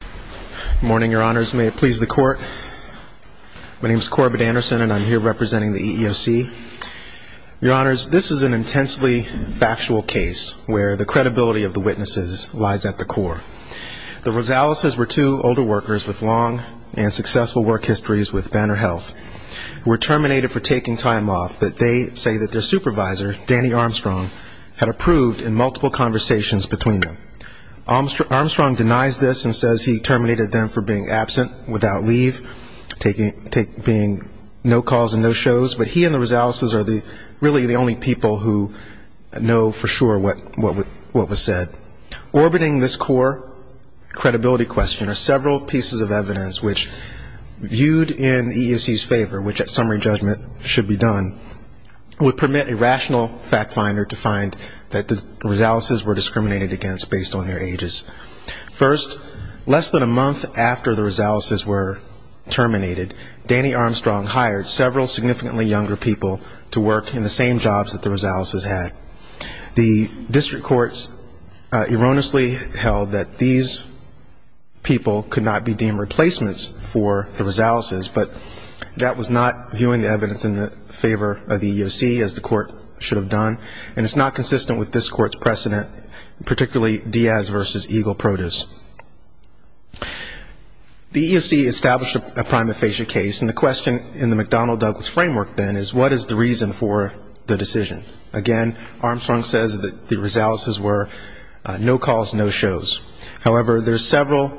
Good morning, Your Honors. May it please the Court. My name is Corbett Anderson, and I'm here representing the EEOC. Your Honors, this is an intensely factual case where the credibility of the witnesses lies at the core. The Rosaleses were two older workers with long and successful work histories with Banner Health who were terminated for taking time off that they say that their supervisor, Danny Armstrong, had approved in multiple conversations between them. Armstrong denies this and says he terminated them for being absent without leave, being no calls and no shows, but he and the Rosaleses are really the only people who know for sure what was said. Orbiting this core credibility question are several pieces of evidence which, viewed in the EEOC's favor, which at summary judgment should be done, would permit a rational fact finder to find that the Rosaleses were discriminated against based on their ages. First, less than a month after the Rosaleses were terminated, Danny Armstrong hired several significantly younger people to work in the same jobs that the Rosaleses had. The district courts erroneously held that these people could not be deemed replacements for the Rosaleses, but that was not viewing the evidence in the favor of the EEOC as the court should have done, and it's not consistent with this court's precedent, particularly Diaz v. Eagle Produce. The EEOC established a prime aphasia case, and the question in the McDonnell-Douglas framework then is what is the reason for the decision? Again, Armstrong says that the Rosaleses were no calls, no shows. However, there's several,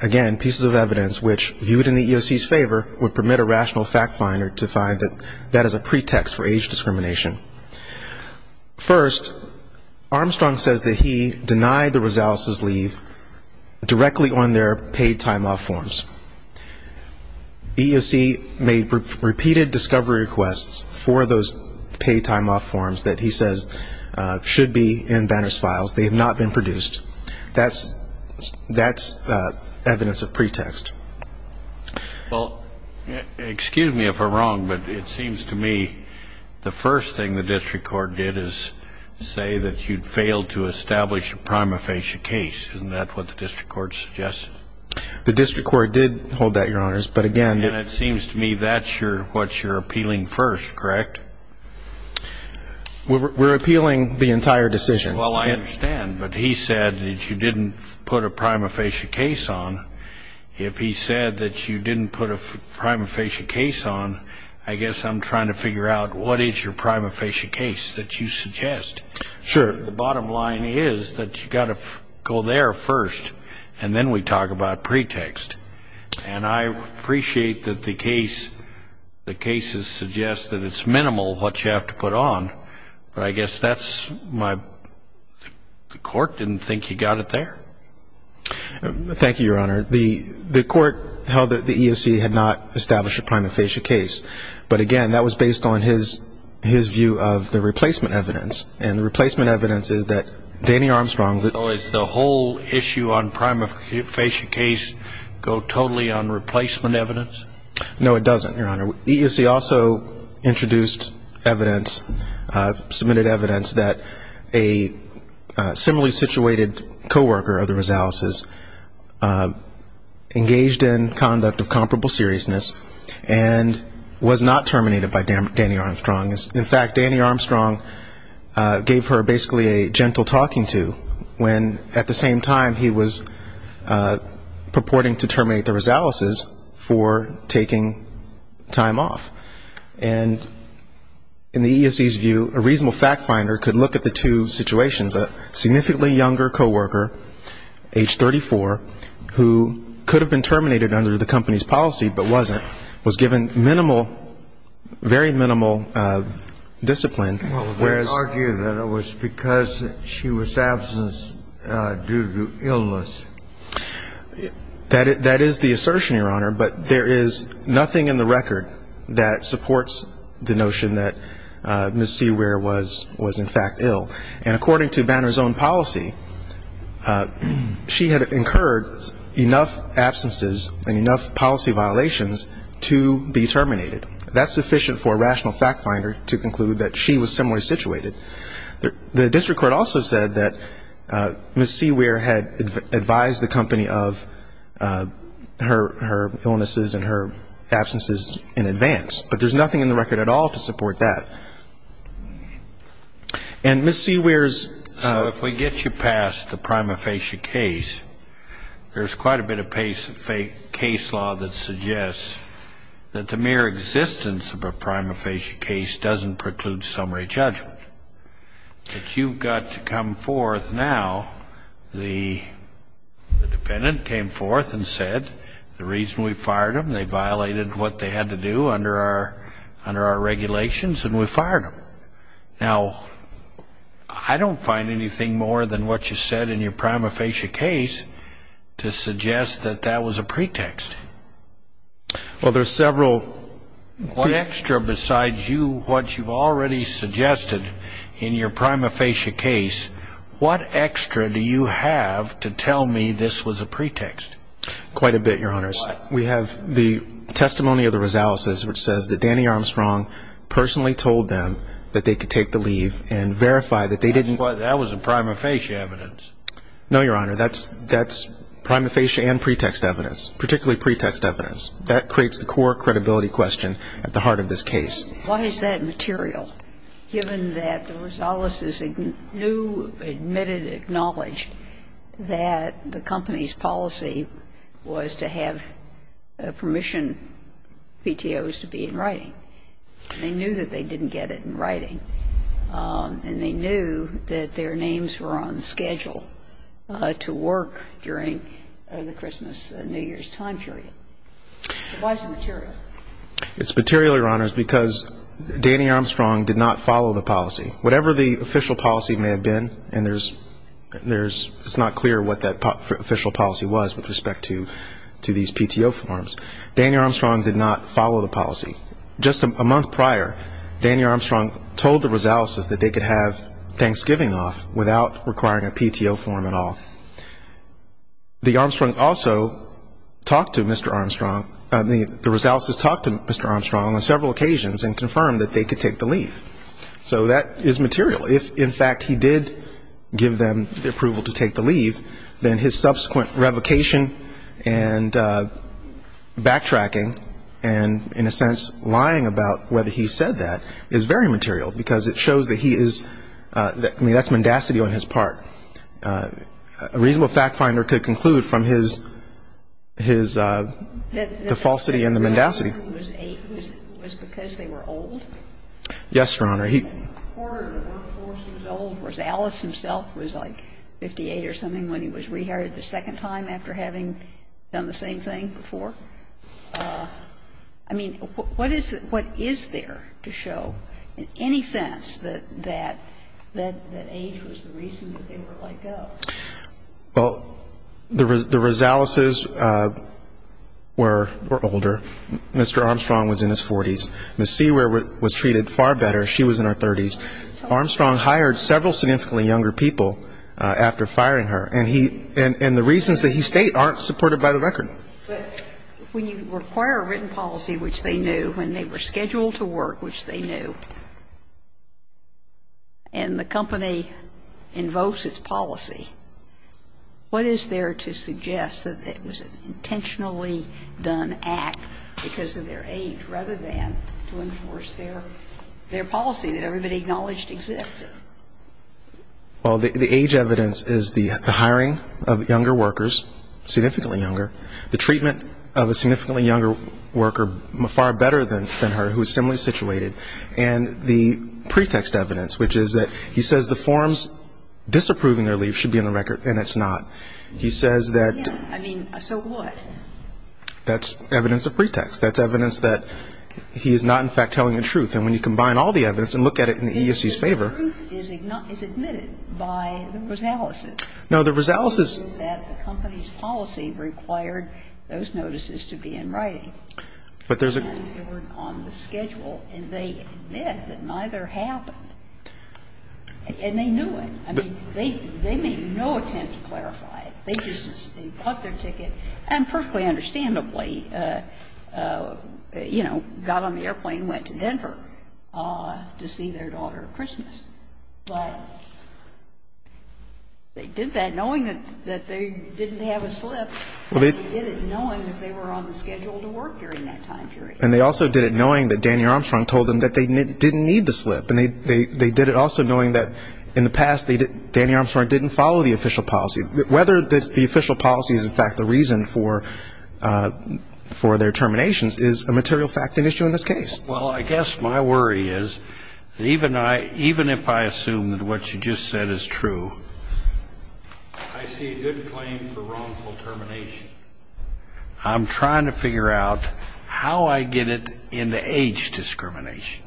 again, pieces of evidence which, viewed in the EEOC's favor, would permit a rational fact finder to find that that is a pretext for age discrimination. First, Armstrong says that he denied the Rosaleses' leave directly on their paid time off forms. The EEOC made repeated discovery requests for those paid time off forms that he says should be in Banner's files. They have not been produced. That's evidence of pretext. Well, excuse me if I'm wrong, but it seems to me the first thing the district court did is say that you'd failed to establish a prime aphasia case, and that's what the district court suggested. The district court did hold that, Your Honors, but again ñ And it seems to me that's what you're appealing first, correct? We're appealing the entire decision. Well, I understand, but he said that you didn't put a prime aphasia case on. If he said that you didn't put a prime aphasia case on, I guess I'm trying to figure out what is your prime aphasia case that you suggest. Sure. The bottom line is that you've got to go there first, and then we talk about pretext. And I appreciate that the cases suggest that it's minimal what you have to put on, but I guess that's my ñ the court didn't think you got it there. Thank you, Your Honor. The court held that the EEOC had not established a prime aphasia case, but again, that was based on his view of the replacement evidence, and the replacement evidence is that Danny Armstrong ñ So is the whole issue on prime aphasia case go totally on replacement evidence? No, it doesn't, Your Honor. EEOC also introduced evidence, submitted evidence, that a similarly situated coworker of the Rosales' engaged in conduct of comparable seriousness and was not terminated by Danny Armstrong. In fact, Danny Armstrong gave her basically a gentle talking to when at the same time he was purporting to terminate the Rosales' for taking time off. And in the EEOC's view, a reasonable fact finder could look at the two situations. A significantly younger coworker, age 34, who could have been terminated under the company's policy but wasn't, was given minimal, very minimal discipline. Well, they argue that it was because she was absent due to illness. That is the assertion, Your Honor, but there is nothing in the record that supports the notion that Ms. Seaware was in fact ill. And according to Banner's own policy, she had incurred enough absences and enough policy violations to be terminated. That's sufficient for a rational fact finder to conclude that she was similarly situated. The district court also said that Ms. Seaware had advised the company of her illnesses and her absences in advance, but there's nothing in the record at all to support that. And Ms. Seaware's ---- So if we get you past the prima facie case, there's quite a bit of case law that suggests that the mere existence of a prima facie case doesn't preclude summary judgment. But you've got to come forth now. The defendant came forth and said the reason we fired them, they violated what they had to do under our regulations and we fired them. Now, I don't find anything more than what you said in your prima facie case to suggest that that was a pretext. Well, there's several. What extra besides you, what you've already suggested in your prima facie case, what extra do you have to tell me this was a pretext? Quite a bit, Your Honors. We have the testimony of the Rosaleses, which says that Danny Armstrong personally told them that they could take the leave and verify that they didn't ---- That was a prima facie evidence. No, Your Honor, that's prima facie and pretext evidence, particularly pretext evidence. That creates the core credibility question at the heart of this case. Why is that material, given that the Rosaleses knew, admitted, acknowledged that the company's policy was to have permission, PTOs, to be in writing? They knew that they didn't get it in writing and they knew that their names were on schedule to work during the Christmas, New Year's time period. Why is it material? It's material, Your Honors, because Danny Armstrong did not follow the policy. Whatever the official policy may have been, and it's not clear what that official policy was with respect to these PTO forms, Danny Armstrong did not follow the policy. Just a month prior, Danny Armstrong told the Rosaleses that they could have Thanksgiving off without requiring a PTO form at all. The Armstrongs also talked to Mr. Armstrong, the Rosaleses talked to Mr. Armstrong on several occasions and confirmed that they could take the leave. So that is material. If, in fact, he did give them the approval to take the leave, then his subsequent revocation and backtracking and, in a sense, lying about whether he said that is very material, because it shows that he is, I mean, that's mendacity on his part. A reasonable fact finder could conclude from his, the falsity and the mendacity. The reason Mr. Armstrong was eight was because they were old? Yes, Your Honor. He ordered the workforce. He was old. Rosales himself was like 58 or something when he was rehired the second time after having done the same thing before. I mean, what is there to show in any sense that age was the reason that they were let go? Well, the Rosaleses were older. Mr. Armstrong was in his 40s. Ms. Seaward was treated far better. She was in her 30s. Armstrong hired several significantly younger people after firing her. And he, and the reasons that he stayed aren't supported by the record. But when you require a written policy, which they knew, when they were scheduled to work, which they knew, and the company invokes its policy, what is there to suggest that it was an intentionally done act because of their age, rather than to enforce their policy that everybody acknowledged existed? Well, the age evidence is the hiring of younger workers, significantly younger, the treatment of a significantly younger worker far better than her who was similarly situated, and the pretext evidence, which is that he says the forms disapproving their leave should be in the record, and it's not. He says that. I mean, so what? That's evidence of pretext. That's evidence that he is not, in fact, telling the truth. And when you combine all the evidence and look at it in the EEOC's favor. The truth is admitted by the Rosaleses. No, the Rosaleses. The company's policy required those notices to be in writing. But there's a. They were on the schedule, and they admit that neither happened. And they knew it. I mean, they made no attempt to clarify it. They just took their ticket and perfectly understandably, you know, got on the airplane and went to Denver to see their daughter at Christmas. But they did that knowing that they didn't have a slip. And they did it knowing that they were on the schedule to work during that time period. And they also did it knowing that Danny Armstrong told them that they didn't need the slip. And they did it also knowing that in the past, Danny Armstrong didn't follow the official policy. Whether the official policy is, in fact, the reason for their terminations is a material fact and issue in this case. Well, I guess my worry is that even if I assume that what you just said is true, I see a good claim for wrongful termination. I'm trying to figure out how I get it into age discrimination.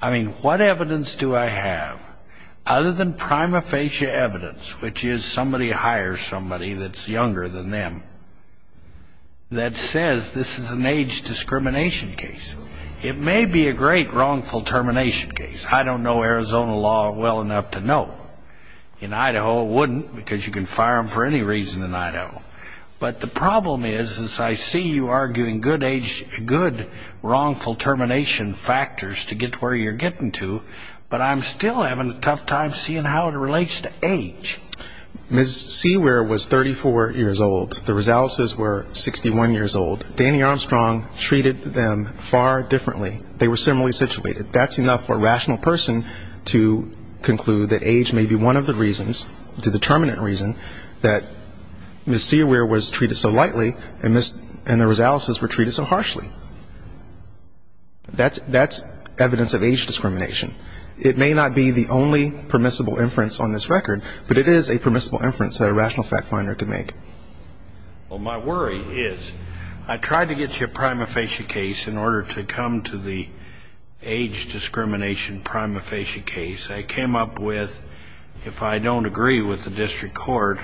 I mean, what evidence do I have other than prima facie evidence, which is somebody hires somebody that's younger than them, that says this is an age discrimination case? It may be a great wrongful termination case. I don't know Arizona law well enough to know. In Idaho, it wouldn't, because you can fire them for any reason in Idaho. But the problem is, is I see you arguing good age, good wrongful termination factors to get to where you're getting to, but I'm still having a tough time seeing how it relates to age. Ms. Seaware was 34 years old. The Rosaleses were 61 years old. Danny Armstrong treated them far differently. They were similarly situated. That's enough for a rational person to conclude that age may be one of the reasons, the determinant reason that Ms. Seaware was treated so lightly and the Rosaleses were treated so harshly. That's evidence of age discrimination. It may not be the only permissible inference on this record, but it is a permissible inference that a rational fact finder could make. Well, my worry is I tried to get you a prima facie case in order to come to the age discrimination prima facie case. I came up with, if I don't agree with the district court,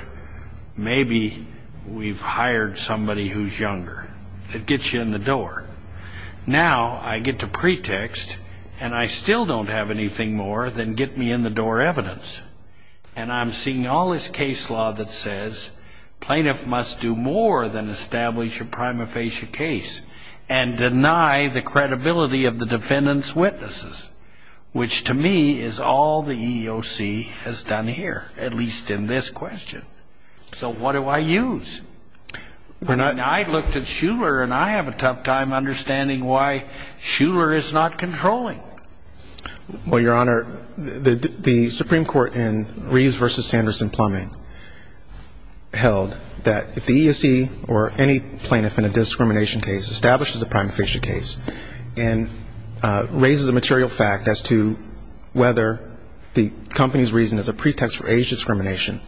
maybe we've hired somebody who's younger. It gets you in the door. Now I get to pretext, and I still don't have anything more than get me in the door evidence, and I'm seeing all this case law that says plaintiff must do more than establish a prima facie case and deny the credibility of the defendant's witnesses, which to me is all the EEOC has done here, at least in this question. So what do I use? I looked at Shuler, and I have a tough time understanding why Shuler is not controlling. Well, Your Honor, the Supreme Court in Reeves v. Sanderson-Plumbing held that if the EEOC or any plaintiff in a discrimination case establishes a prima facie case and raises a material fact as to whether the company's reason is a pretext for age discrimination,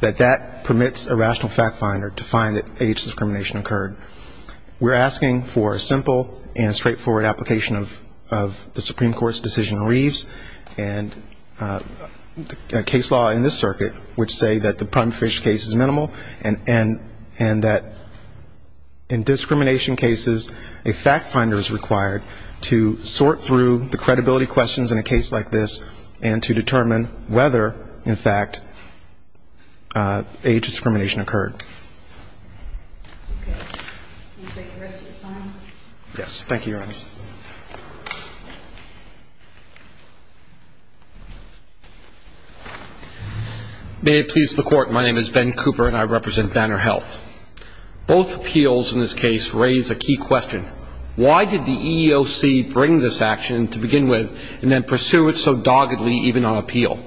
that that permits a rational fact finder to find that age discrimination occurred. We're asking for a simple and straightforward application of the Supreme Court's decision in Reeves and a case law in this circuit which say that the prima facie case is minimal and that in discrimination cases a fact finder is required to sort through the credibility questions in a case like this and to determine whether, in fact, age discrimination occurred. Okay. Can you take the rest of your time? Thank you, Your Honor. May it please the Court. My name is Ben Cooper, and I represent Banner Health. Both appeals in this case raise a key question. Why did the EEOC bring this action to begin with and then pursue it so doggedly even on appeal?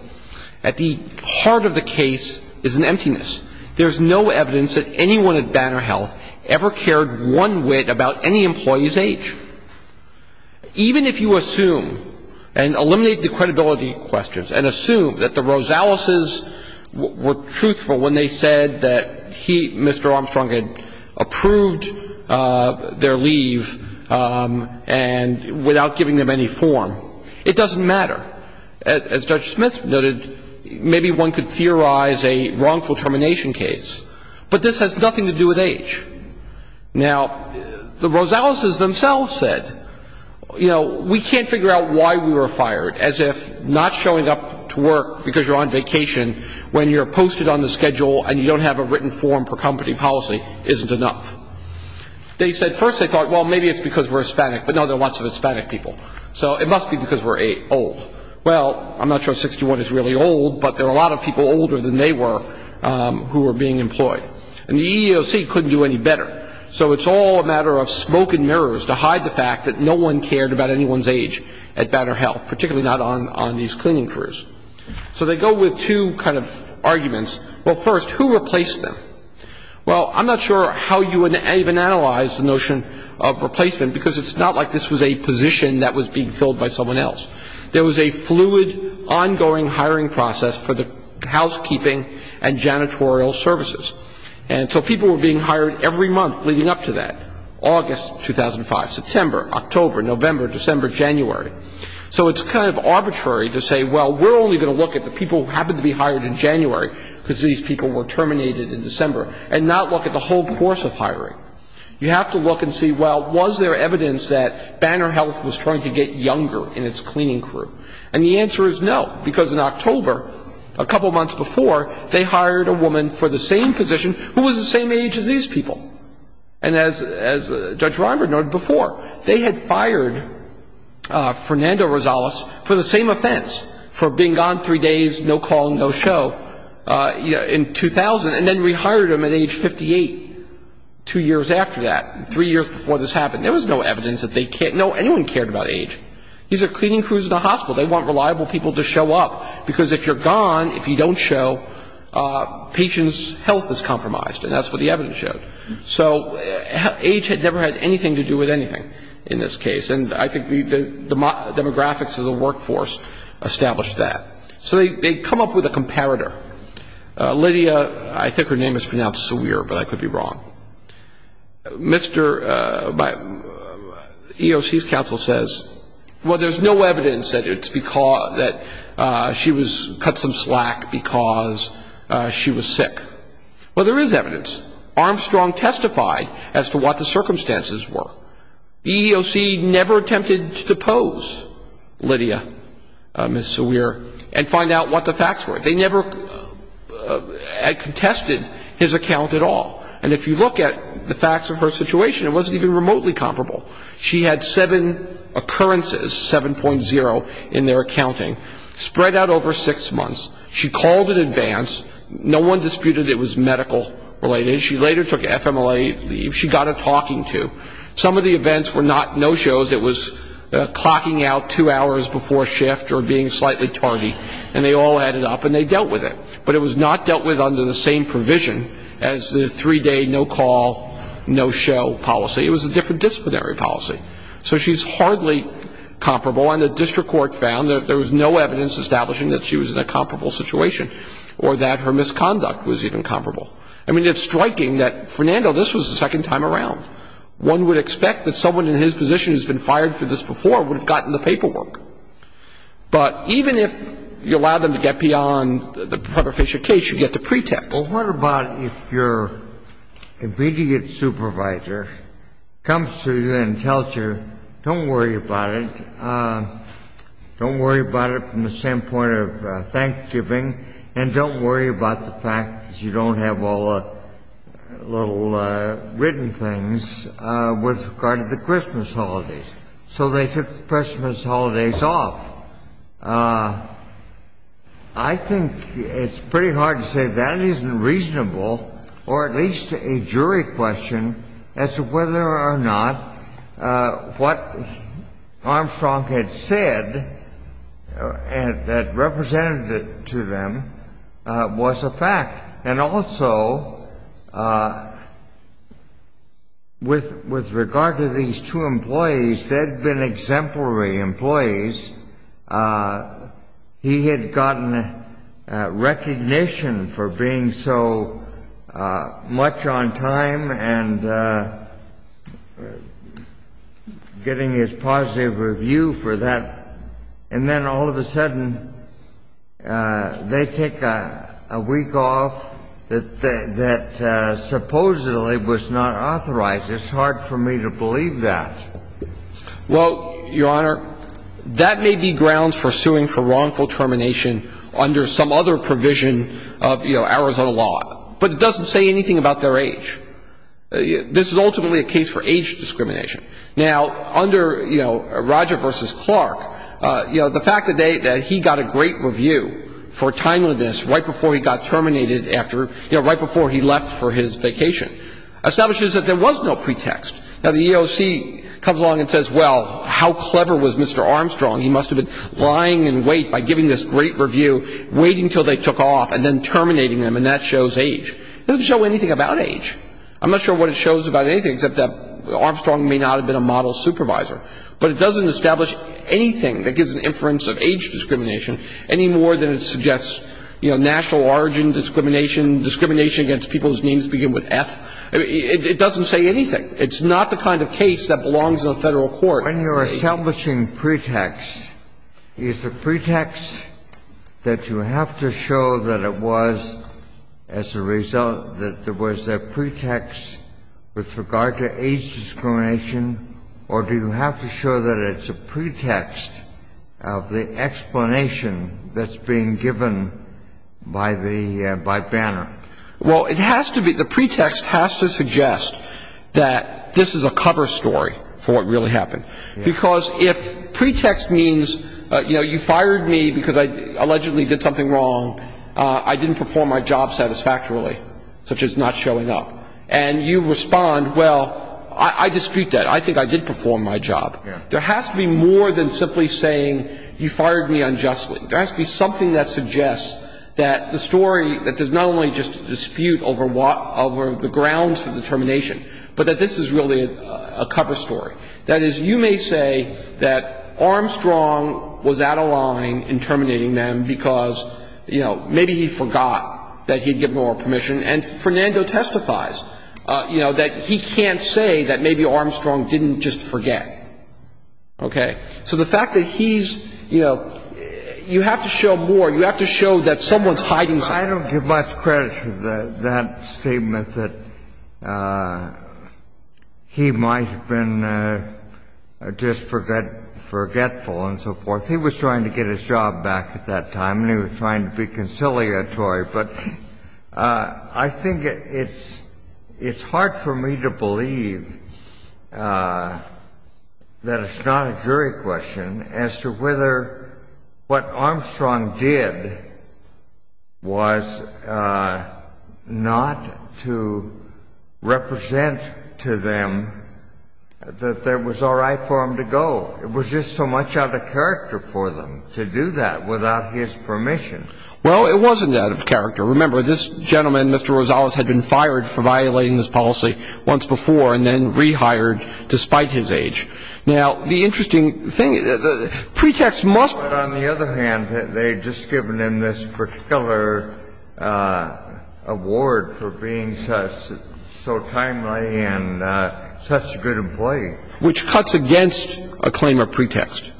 At the heart of the case is an emptiness. There's no evidence that anyone at Banner Health ever cared one whit about any employee's age. Even if you assume and eliminate the credibility questions and assume that the Rosaleses were truthful when they said that he, Mr. Armstrong, had approved their leave without giving them any form, it doesn't matter. As Judge Smith noted, maybe one could theorize a wrongful termination case. But this has nothing to do with age. Now, the Rosaleses themselves said, you know, we can't figure out why we were fired. As if not showing up to work because you're on vacation when you're posted on the schedule and you don't have a written form per company policy isn't enough. They said first they thought, well, maybe it's because we're Hispanic, but no, there are lots of Hispanic people. So it must be because we're old. Well, I'm not sure 61 is really old, but there are a lot of people older than they were who were being employed. And the EEOC couldn't do any better. So it's all a matter of smoke and mirrors to hide the fact that no one cared about anyone's age at Banner Health, particularly not on these cleaning crews. So they go with two kind of arguments. Well, first, who replaced them? Well, I'm not sure how you would even analyze the notion of replacement because it's not like this was a position that was being filled by someone else. There was a fluid, ongoing hiring process for the housekeeping and janitorial services. And so people were being hired every month leading up to that, August 2005, September, October, November, December, January. So it's kind of arbitrary to say, well, we're only going to look at the people who happened to be hired in January because these people were terminated in December and not look at the whole course of hiring. You have to look and see, well, was there evidence that Banner Health was trying to get younger in its cleaning crew? And the answer is no, because in October, a couple months before, they hired a woman for the same position who was the same age as these people. And as Judge Reimer noted before, they had fired Fernando Rosales for the same offense, for being gone three days, no call and no show, in 2000. And then rehired him at age 58, two years after that, three years before this happened. There was no evidence that they cared. No, anyone cared about age. These are cleaning crews in a hospital. They want reliable people to show up because if you're gone, if you don't show, patient's health is compromised. And that's what the evidence showed. So age had never had anything to do with anything in this case. And I think the demographics of the workforce established that. So they come up with a comparator. Lydia, I think her name is pronounced Sa-weer, but I could be wrong. Mr. EEOC's counsel says, well, there's no evidence that she was cut some slack because she was sick. Well, there is evidence. Armstrong testified as to what the circumstances were. EEOC never attempted to depose Lydia, Ms. Sa-weer, and find out what the facts were. They never had contested his account at all. And if you look at the facts of her situation, it wasn't even remotely comparable. She had seven occurrences, 7.0 in their accounting, spread out over six months. She called in advance. No one disputed it was medical-related. She later took FMLA leave. She got a talking to. Some of the events were not no-shows. It was clocking out two hours before shift or being slightly tardy. And they all added up and they dealt with it. But it was not dealt with under the same provision as the three-day no-call, no-show policy. It was a different disciplinary policy. So she's hardly comparable. And the district court found that there was no evidence establishing that she was in a comparable situation or that her misconduct was even comparable. I mean, it's striking that, Fernando, this was the second time around. One would expect that someone in his position who has been fired for this before would have gotten the paperwork. But even if you allowed them to get beyond the Professor Fisher case, you get the pretext. Well, what about if your immediate supervisor comes to you and tells you, don't worry about it, don't worry about it from the standpoint of thanksgiving, and don't worry about the fact that you don't have all the little written things with regard to the Christmas holidays? So they took the Christmas holidays off. I think it's pretty hard to say that isn't reasonable, or at least a jury question, as to whether or not what Armstrong had said that represented it to them was reasonable was a fact. And also, with regard to these two employees, they'd been exemplary employees. He had gotten recognition for being so much on time and getting his positive review for that. And then all of a sudden, they take a week off that supposedly was not authorized. It's hard for me to believe that. Well, Your Honor, that may be grounds for suing for wrongful termination under some other provision of, you know, Arizona law. But it doesn't say anything about their age. This is ultimately a case for age discrimination. Now, under, you know, Roger versus Clark, you know, the fact that he got a great review for timeliness right before he got terminated after, you know, right before he left for his vacation establishes that there was no pretext. Now, the EOC comes along and says, well, how clever was Mr. Armstrong? He must have been lying in wait by giving this great review, waiting until they took off, and then terminating them, and that shows age. It doesn't show anything about age. I'm not sure what it shows about anything except that Armstrong may not have been a model supervisor. But it doesn't establish anything that gives an inference of age discrimination any more than it suggests, you know, national origin discrimination, discrimination against people whose names begin with F. It doesn't say anything. It's not the kind of case that belongs in a Federal court. When you're establishing pretext, is the pretext that you have to show that it was, as a result, that there was a pretext with regard to age discrimination, or do you have to show that it's a pretext of the explanation that's being given by the, by Banner? Well, it has to be, the pretext has to suggest that this is a cover story for what really happened. Because if pretext means, you know, you fired me because I allegedly did something wrong, I didn't perform my job satisfactorily, such as not showing up, and you respond, well, I dispute that. I think I did perform my job. There has to be more than simply saying you fired me unjustly. There has to be something that suggests that the story, that there's not only just a dispute over what, over the grounds for the termination, but that this is really a cover story. That is, you may say that Armstrong was out of line in terminating them because, you know, maybe he forgot that he had given oral permission. And Fernando testifies, you know, that he can't say that maybe Armstrong didn't just forget. Okay. So the fact that he's, you know, you have to show more. You have to show that someone's hiding something. I don't give much credit for that statement that he might have been just forgetful and so forth. He was trying to get his job back at that time, and he was trying to be conciliatory. But I think it's hard for me to believe that it's not a jury question as to whether what Armstrong did was not to represent to them that it was all right for him to go. It was just so much out of character for them to do that without his permission. Well, it wasn't out of character. Remember, this gentleman, Mr. Rosales, had been fired for violating this policy once before and then rehired despite his age. Now, the interesting thing, pretext must be. But on the other hand, they had just given him this particular award for being so timely and such a good employee. Which cuts against a claim of pretext.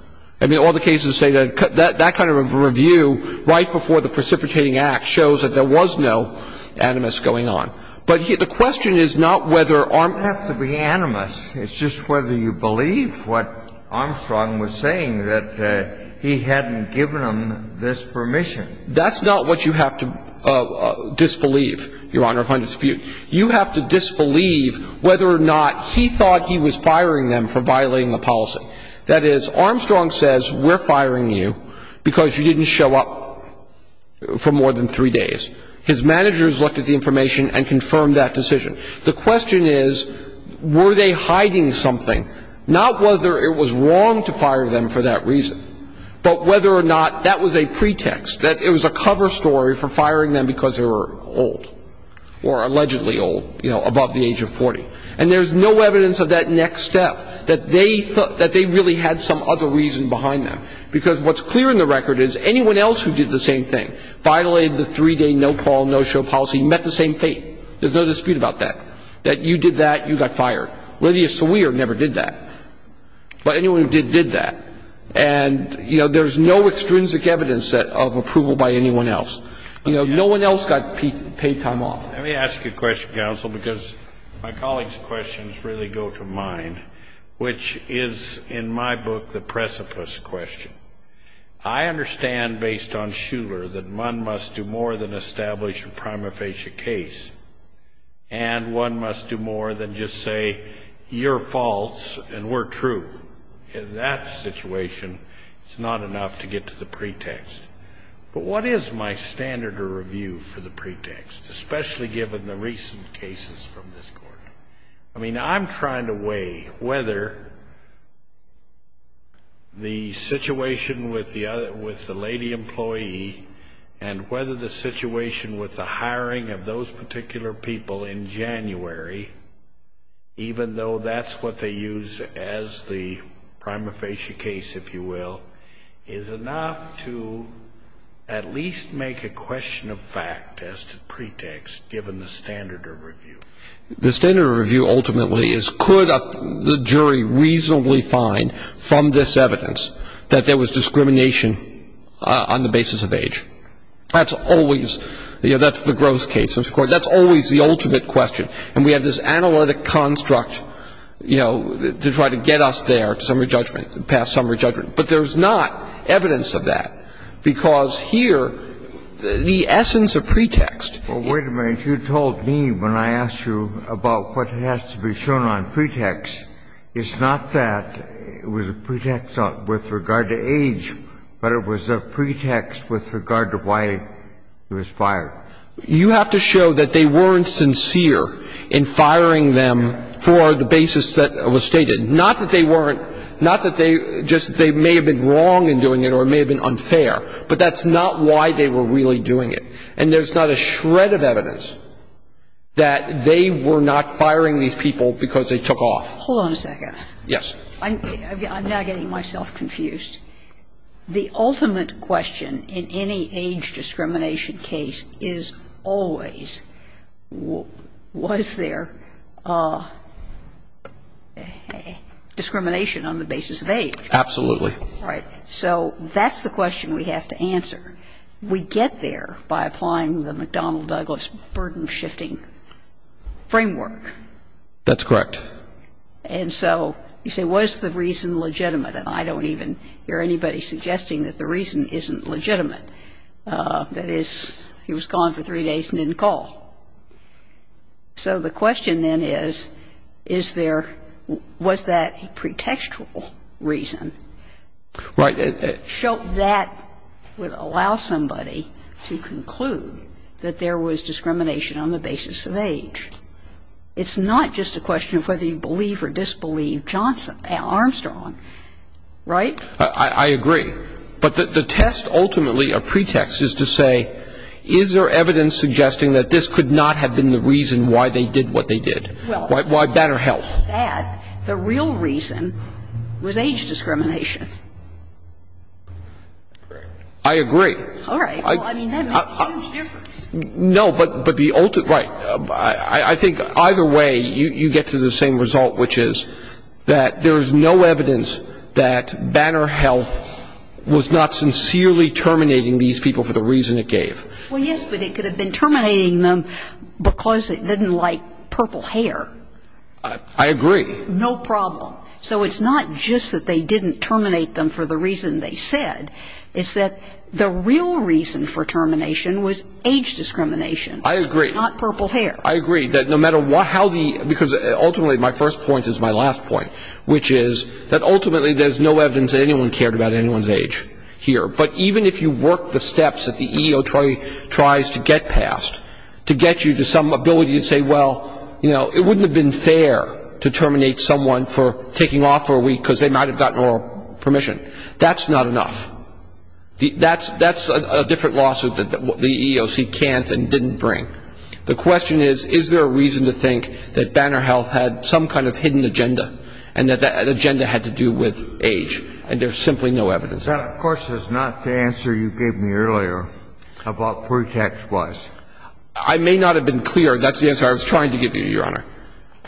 I mean, all the cases say that that kind of a review right before the precipitating act shows that there was no animus going on. But the question is not whether Armstrong. It doesn't have to be animus. It's just whether you believe what Armstrong was saying, that he hadn't given them this permission. That's not what you have to disbelieve, Your Honor, if I'm to dispute. You have to disbelieve whether or not he thought he was firing them for violating the policy. That is, Armstrong says, we're firing you because you didn't show up for more than three days. His managers looked at the information and confirmed that decision. The question is, were they hiding something, not whether it was wrong to fire them for that reason, but whether or not that was a pretext, that it was a cover story for firing them because they were old or allegedly old, you know, above the age of 40. And there's no evidence of that next step, that they thought that they really had some other reason behind them. Because what's clear in the record is anyone else who did the same thing, violated the three-day no-call, no-show policy, met the same fate. There's no dispute about that, that you did that, you got fired. Lydia Sawir never did that. But anyone who did, did that. And, you know, there's no extrinsic evidence of approval by anyone else. You know, no one else got paid time off. Let me ask you a question, counsel, because my colleagues' questions really go to mine, which is, in my book, the precipice question. I understand, based on Shuler, that one must do more than establish a prima facie case, and one must do more than just say, you're false and we're true. In that situation, it's not enough to get to the pretext. But what is my standard of review for the pretext, especially given the recent cases from this Court? I mean, I'm trying to weigh whether the situation with the lady employee and whether the situation with the hiring of those particular people in January, even though that's what they use as the prima facie case, if you will, is enough to at least make a question of fact as the pretext, given the standard of review. The standard of review ultimately is, could the jury reasonably find from this evidence that there was discrimination on the basis of age? That's always, you know, that's the gross case of the Court. That's always the ultimate question. And we have this analytic construct, you know, to try to get us there to summary judgment, past summary judgment. But there's not evidence of that, because here, the essence of pretext — Well, wait a minute. You told me when I asked you about what has to be shown on pretext, it's not that it was a pretext with regard to age, but it was a pretext with regard to why he was fired. You have to show that they weren't sincere in firing them for the basis that was stated. Not that they weren't. Not that they just — they may have been wrong in doing it or it may have been unfair, but that's not why they were really doing it. And there's not a shred of evidence that they were not firing these people because they took off. Hold on a second. Yes. I'm now getting myself confused. The ultimate question in any age discrimination case is always was there discrimination on the basis of age? Absolutely. Right. So that's the question we have to answer. We get there by applying the McDonnell-Douglas burden-shifting framework. That's correct. And so you say was the reason legitimate? And I don't even hear anybody suggesting that the reason isn't legitimate. That is, he was gone for three days and didn't call. So the question then is, is there — was that a pretextual reason? Right. That would allow somebody to conclude that there was discrimination on the basis of age. It's not just a question of whether you believe or disbelieve Armstrong. Right? I agree. But the test ultimately, a pretext, is to say is there evidence suggesting that this could not have been the reason why they did what they did? Well, it's not just that. The real reason was age discrimination. I agree. All right. Well, I mean, that makes a huge difference. No, but the ultimate — right. I think either way you get to the same result, which is that there is no evidence that Banner Health was not sincerely terminating these people for the reason it gave. Well, yes, but it could have been terminating them because it didn't like purple hair. I agree. No problem. So it's not just that they didn't terminate them for the reason they said. It's that the real reason for termination was age discrimination. I agree. Not purple hair. I agree that no matter how the — because ultimately my first point is my last point, which is that ultimately there's no evidence that anyone cared about anyone's age here. But even if you work the steps that the EEO tries to get past to get you to some ability to say, well, you know, it wouldn't have been fair to terminate someone for taking off for a week because they might have gotten oral permission, that's not enough. That's a different lawsuit that the EEOC can't and didn't bring. The question is, is there a reason to think that Banner Health had some kind of hidden agenda and that that agenda had to do with age? And there's simply no evidence. That, of course, is not the answer you gave me earlier about pretext-wise. I may not have been clear. That's the answer I was trying to give you, Your Honor.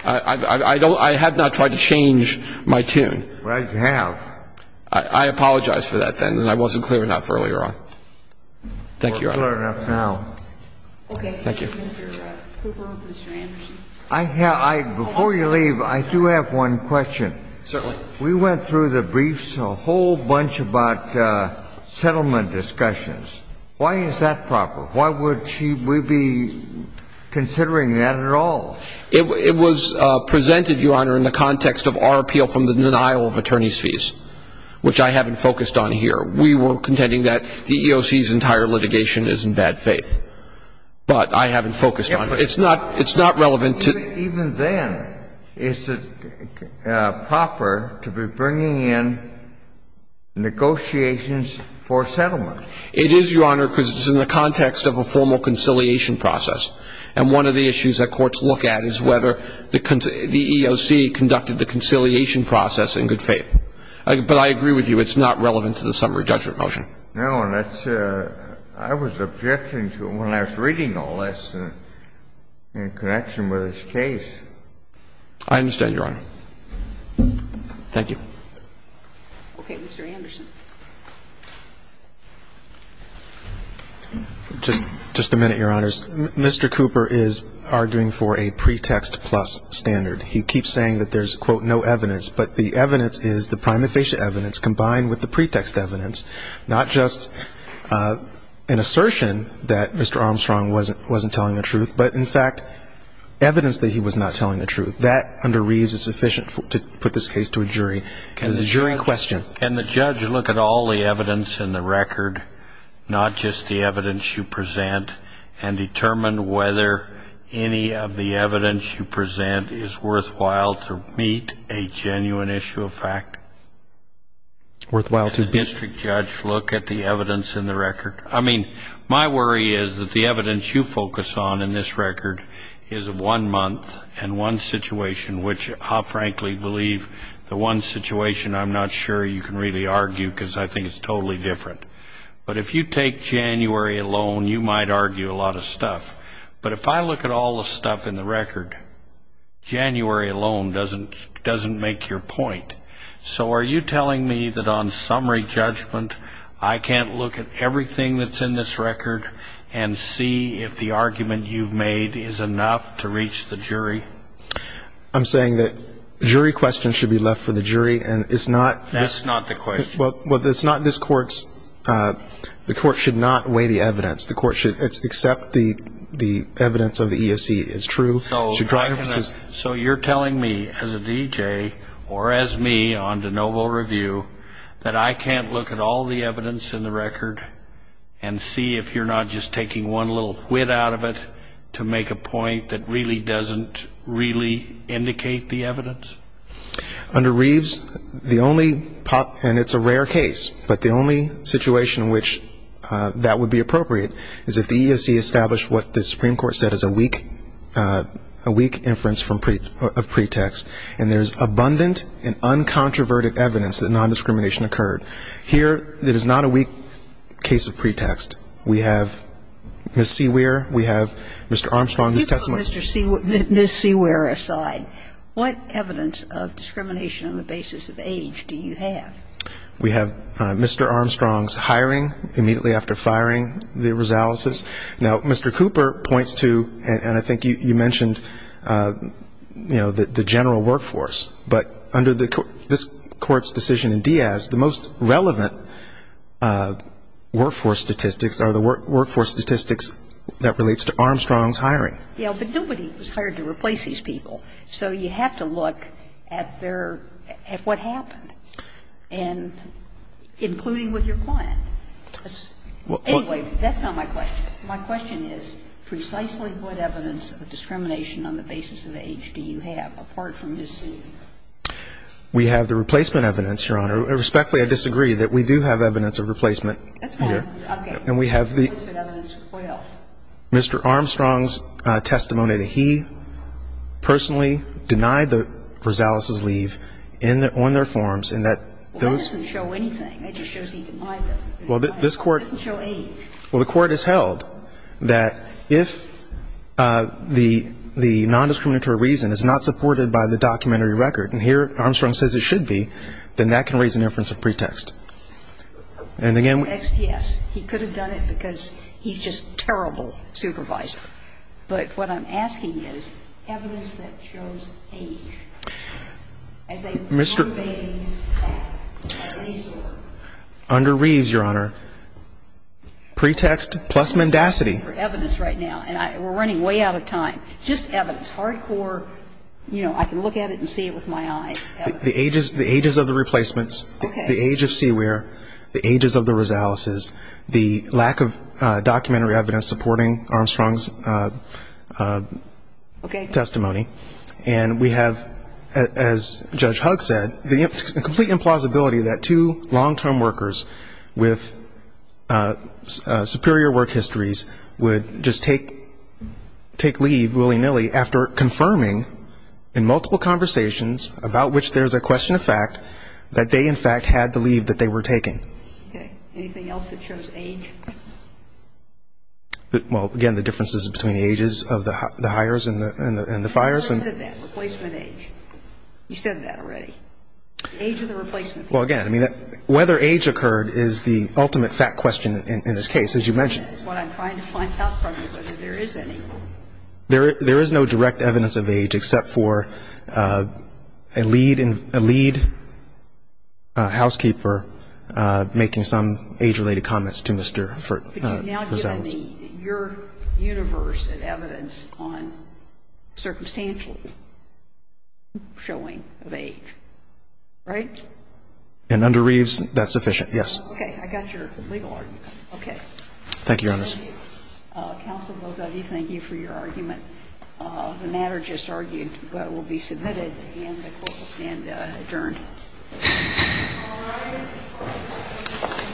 I don't — I have not tried to change my tune. Well, you have. I apologize for that then, and I wasn't clear enough earlier on. Thank you, Your Honor. We're clear enough now. Okay. Thank you. Mr. Cooper, Mr. Anderson. Before you leave, I do have one question. Certainly. We went through the briefs, a whole bunch about settlement discussions. Why is that proper? Why would she be considering that at all? It was presented, Your Honor, in the context of our appeal from the denial of attorneys' fees, which I haven't focused on here. We were contending that the EEOC's entire litigation is in bad faith. But I haven't focused on it. It's not relevant to — Even then, is it proper to be bringing in negotiations for settlement? It is, Your Honor, because it's in the context of a formal conciliation process. And one of the issues that courts look at is whether the EEOC conducted the conciliation process in good faith. But I agree with you. It's not relevant to the summary judgment motion. No, and that's — I was objecting to it when I was reading all this in connection with this case. I understand, Your Honor. Thank you. Okay. Mr. Anderson. Just a minute, Your Honors. Mr. Cooper is arguing for a pretext-plus standard. He keeps saying that there's, quote, no evidence. But the evidence is the prima facie evidence combined with the pretext evidence, not just an assertion that Mr. Armstrong wasn't telling the truth, but, in fact, evidence that he was not telling the truth. That, under Reeves, is sufficient to put this case to a jury. It was a jury question. Can the judge look at all the evidence in the record, not just the evidence you present, and determine whether any of the evidence you present is worthwhile to meet a genuine issue of fact? Worthwhile to meet. Can the district judge look at the evidence in the record? I mean, my worry is that the evidence you focus on in this record is of one month and one situation, which I frankly believe the one situation I'm not sure you can really argue because I think it's totally different. But if you take January alone, you might argue a lot of stuff. But if I look at all the stuff in the record, January alone doesn't make your point. So are you telling me that on summary judgment I can't look at everything that's in this record and see if the argument you've made is enough to reach the jury? I'm saying that jury questions should be left for the jury. That's not the question. Well, it's not. The court should not weigh the evidence. The court should accept the evidence of the EEOC is true. So you're telling me as a D.J. or as me on de novo review that I can't look at all the evidence in the record and see if you're not just taking one little whit out of it to make a point that really doesn't really indicate the evidence? Under Reeves, the only pop, and it's a rare case, but the only situation in which that would be appropriate is if the EEOC established what the Supreme Court said is a weak inference of pretext, and there's abundant and uncontroverted evidence that nondiscrimination occurred. Here, it is not a weak case of pretext. We have Ms. Seaweer. We have Mr. Armstrong's testimony. Ms. Seaweer aside, what evidence of discrimination on the basis of age do you have? We have Mr. Armstrong's hiring immediately after firing the Rosaleses. Now, Mr. Cooper points to, and I think you mentioned, you know, the general workforce. But under this Court's decision in Diaz, the most relevant workforce statistics are the workforce statistics that relates to Armstrong's hiring. Yeah, but nobody was hired to replace these people. So you have to look at their, at what happened, and including with your client. Anyway, that's not my question. My question is precisely what evidence of discrimination on the basis of age do you have apart from Ms. Seaweer? We have the replacement evidence, Your Honor. Respectfully, I disagree that we do have evidence of replacement here. That's fine. Okay. And we have the ---- What else? Mr. Armstrong's testimony that he personally denied the Rosaleses' leave on their forms and that those ---- Well, that doesn't show anything. It just shows he denied them. Well, this Court ---- It doesn't show age. Well, the Court has held that if the non-discriminatory reason is not supported by the documentary record, and here Armstrong says it should be, then that can raise an inference of pretext. And again ---- Pretext, yes. He could have done it because he's just a terrible supervisor. But what I'm asking is evidence that shows age as a motivating factor, a resource. Under Reeves, Your Honor, pretext plus mendacity. We're running way out of time. Just evidence. Hardcore, you know, I can look at it and see it with my eyes. The ages of the replacements. Okay. The age of Seaweer. The ages of the Rosaleses. The lack of documentary evidence supporting Armstrong's testimony. Okay. And we have, as Judge Hugg said, the complete implausibility that two long-term workers with superior work histories would just take leave willy-nilly after confirming, in multiple conversations about which there's a question of fact, that they, in fact, had the leave that they were taking. Okay. Anything else that shows age? Well, again, the differences between the ages of the hires and the fires. Who said that? Replacement age. You said that already. The age of the replacement. Well, again, I mean, whether age occurred is the ultimate fact question in this case, as you mentioned. That's what I'm trying to find out from you, whether there is any. There is no direct evidence of age except for a lead housekeeper making some age-related comments to Mr. Rosales. But you've now given your universe of evidence on circumstantial showing of age, right? And under Reeves, that's sufficient, yes. Okay. I got your legal argument. Okay. Thank you, Your Honor. Counsel, both of you, thank you for your argument. The matter just argued but will be submitted and the court will stand adjourned. All rise.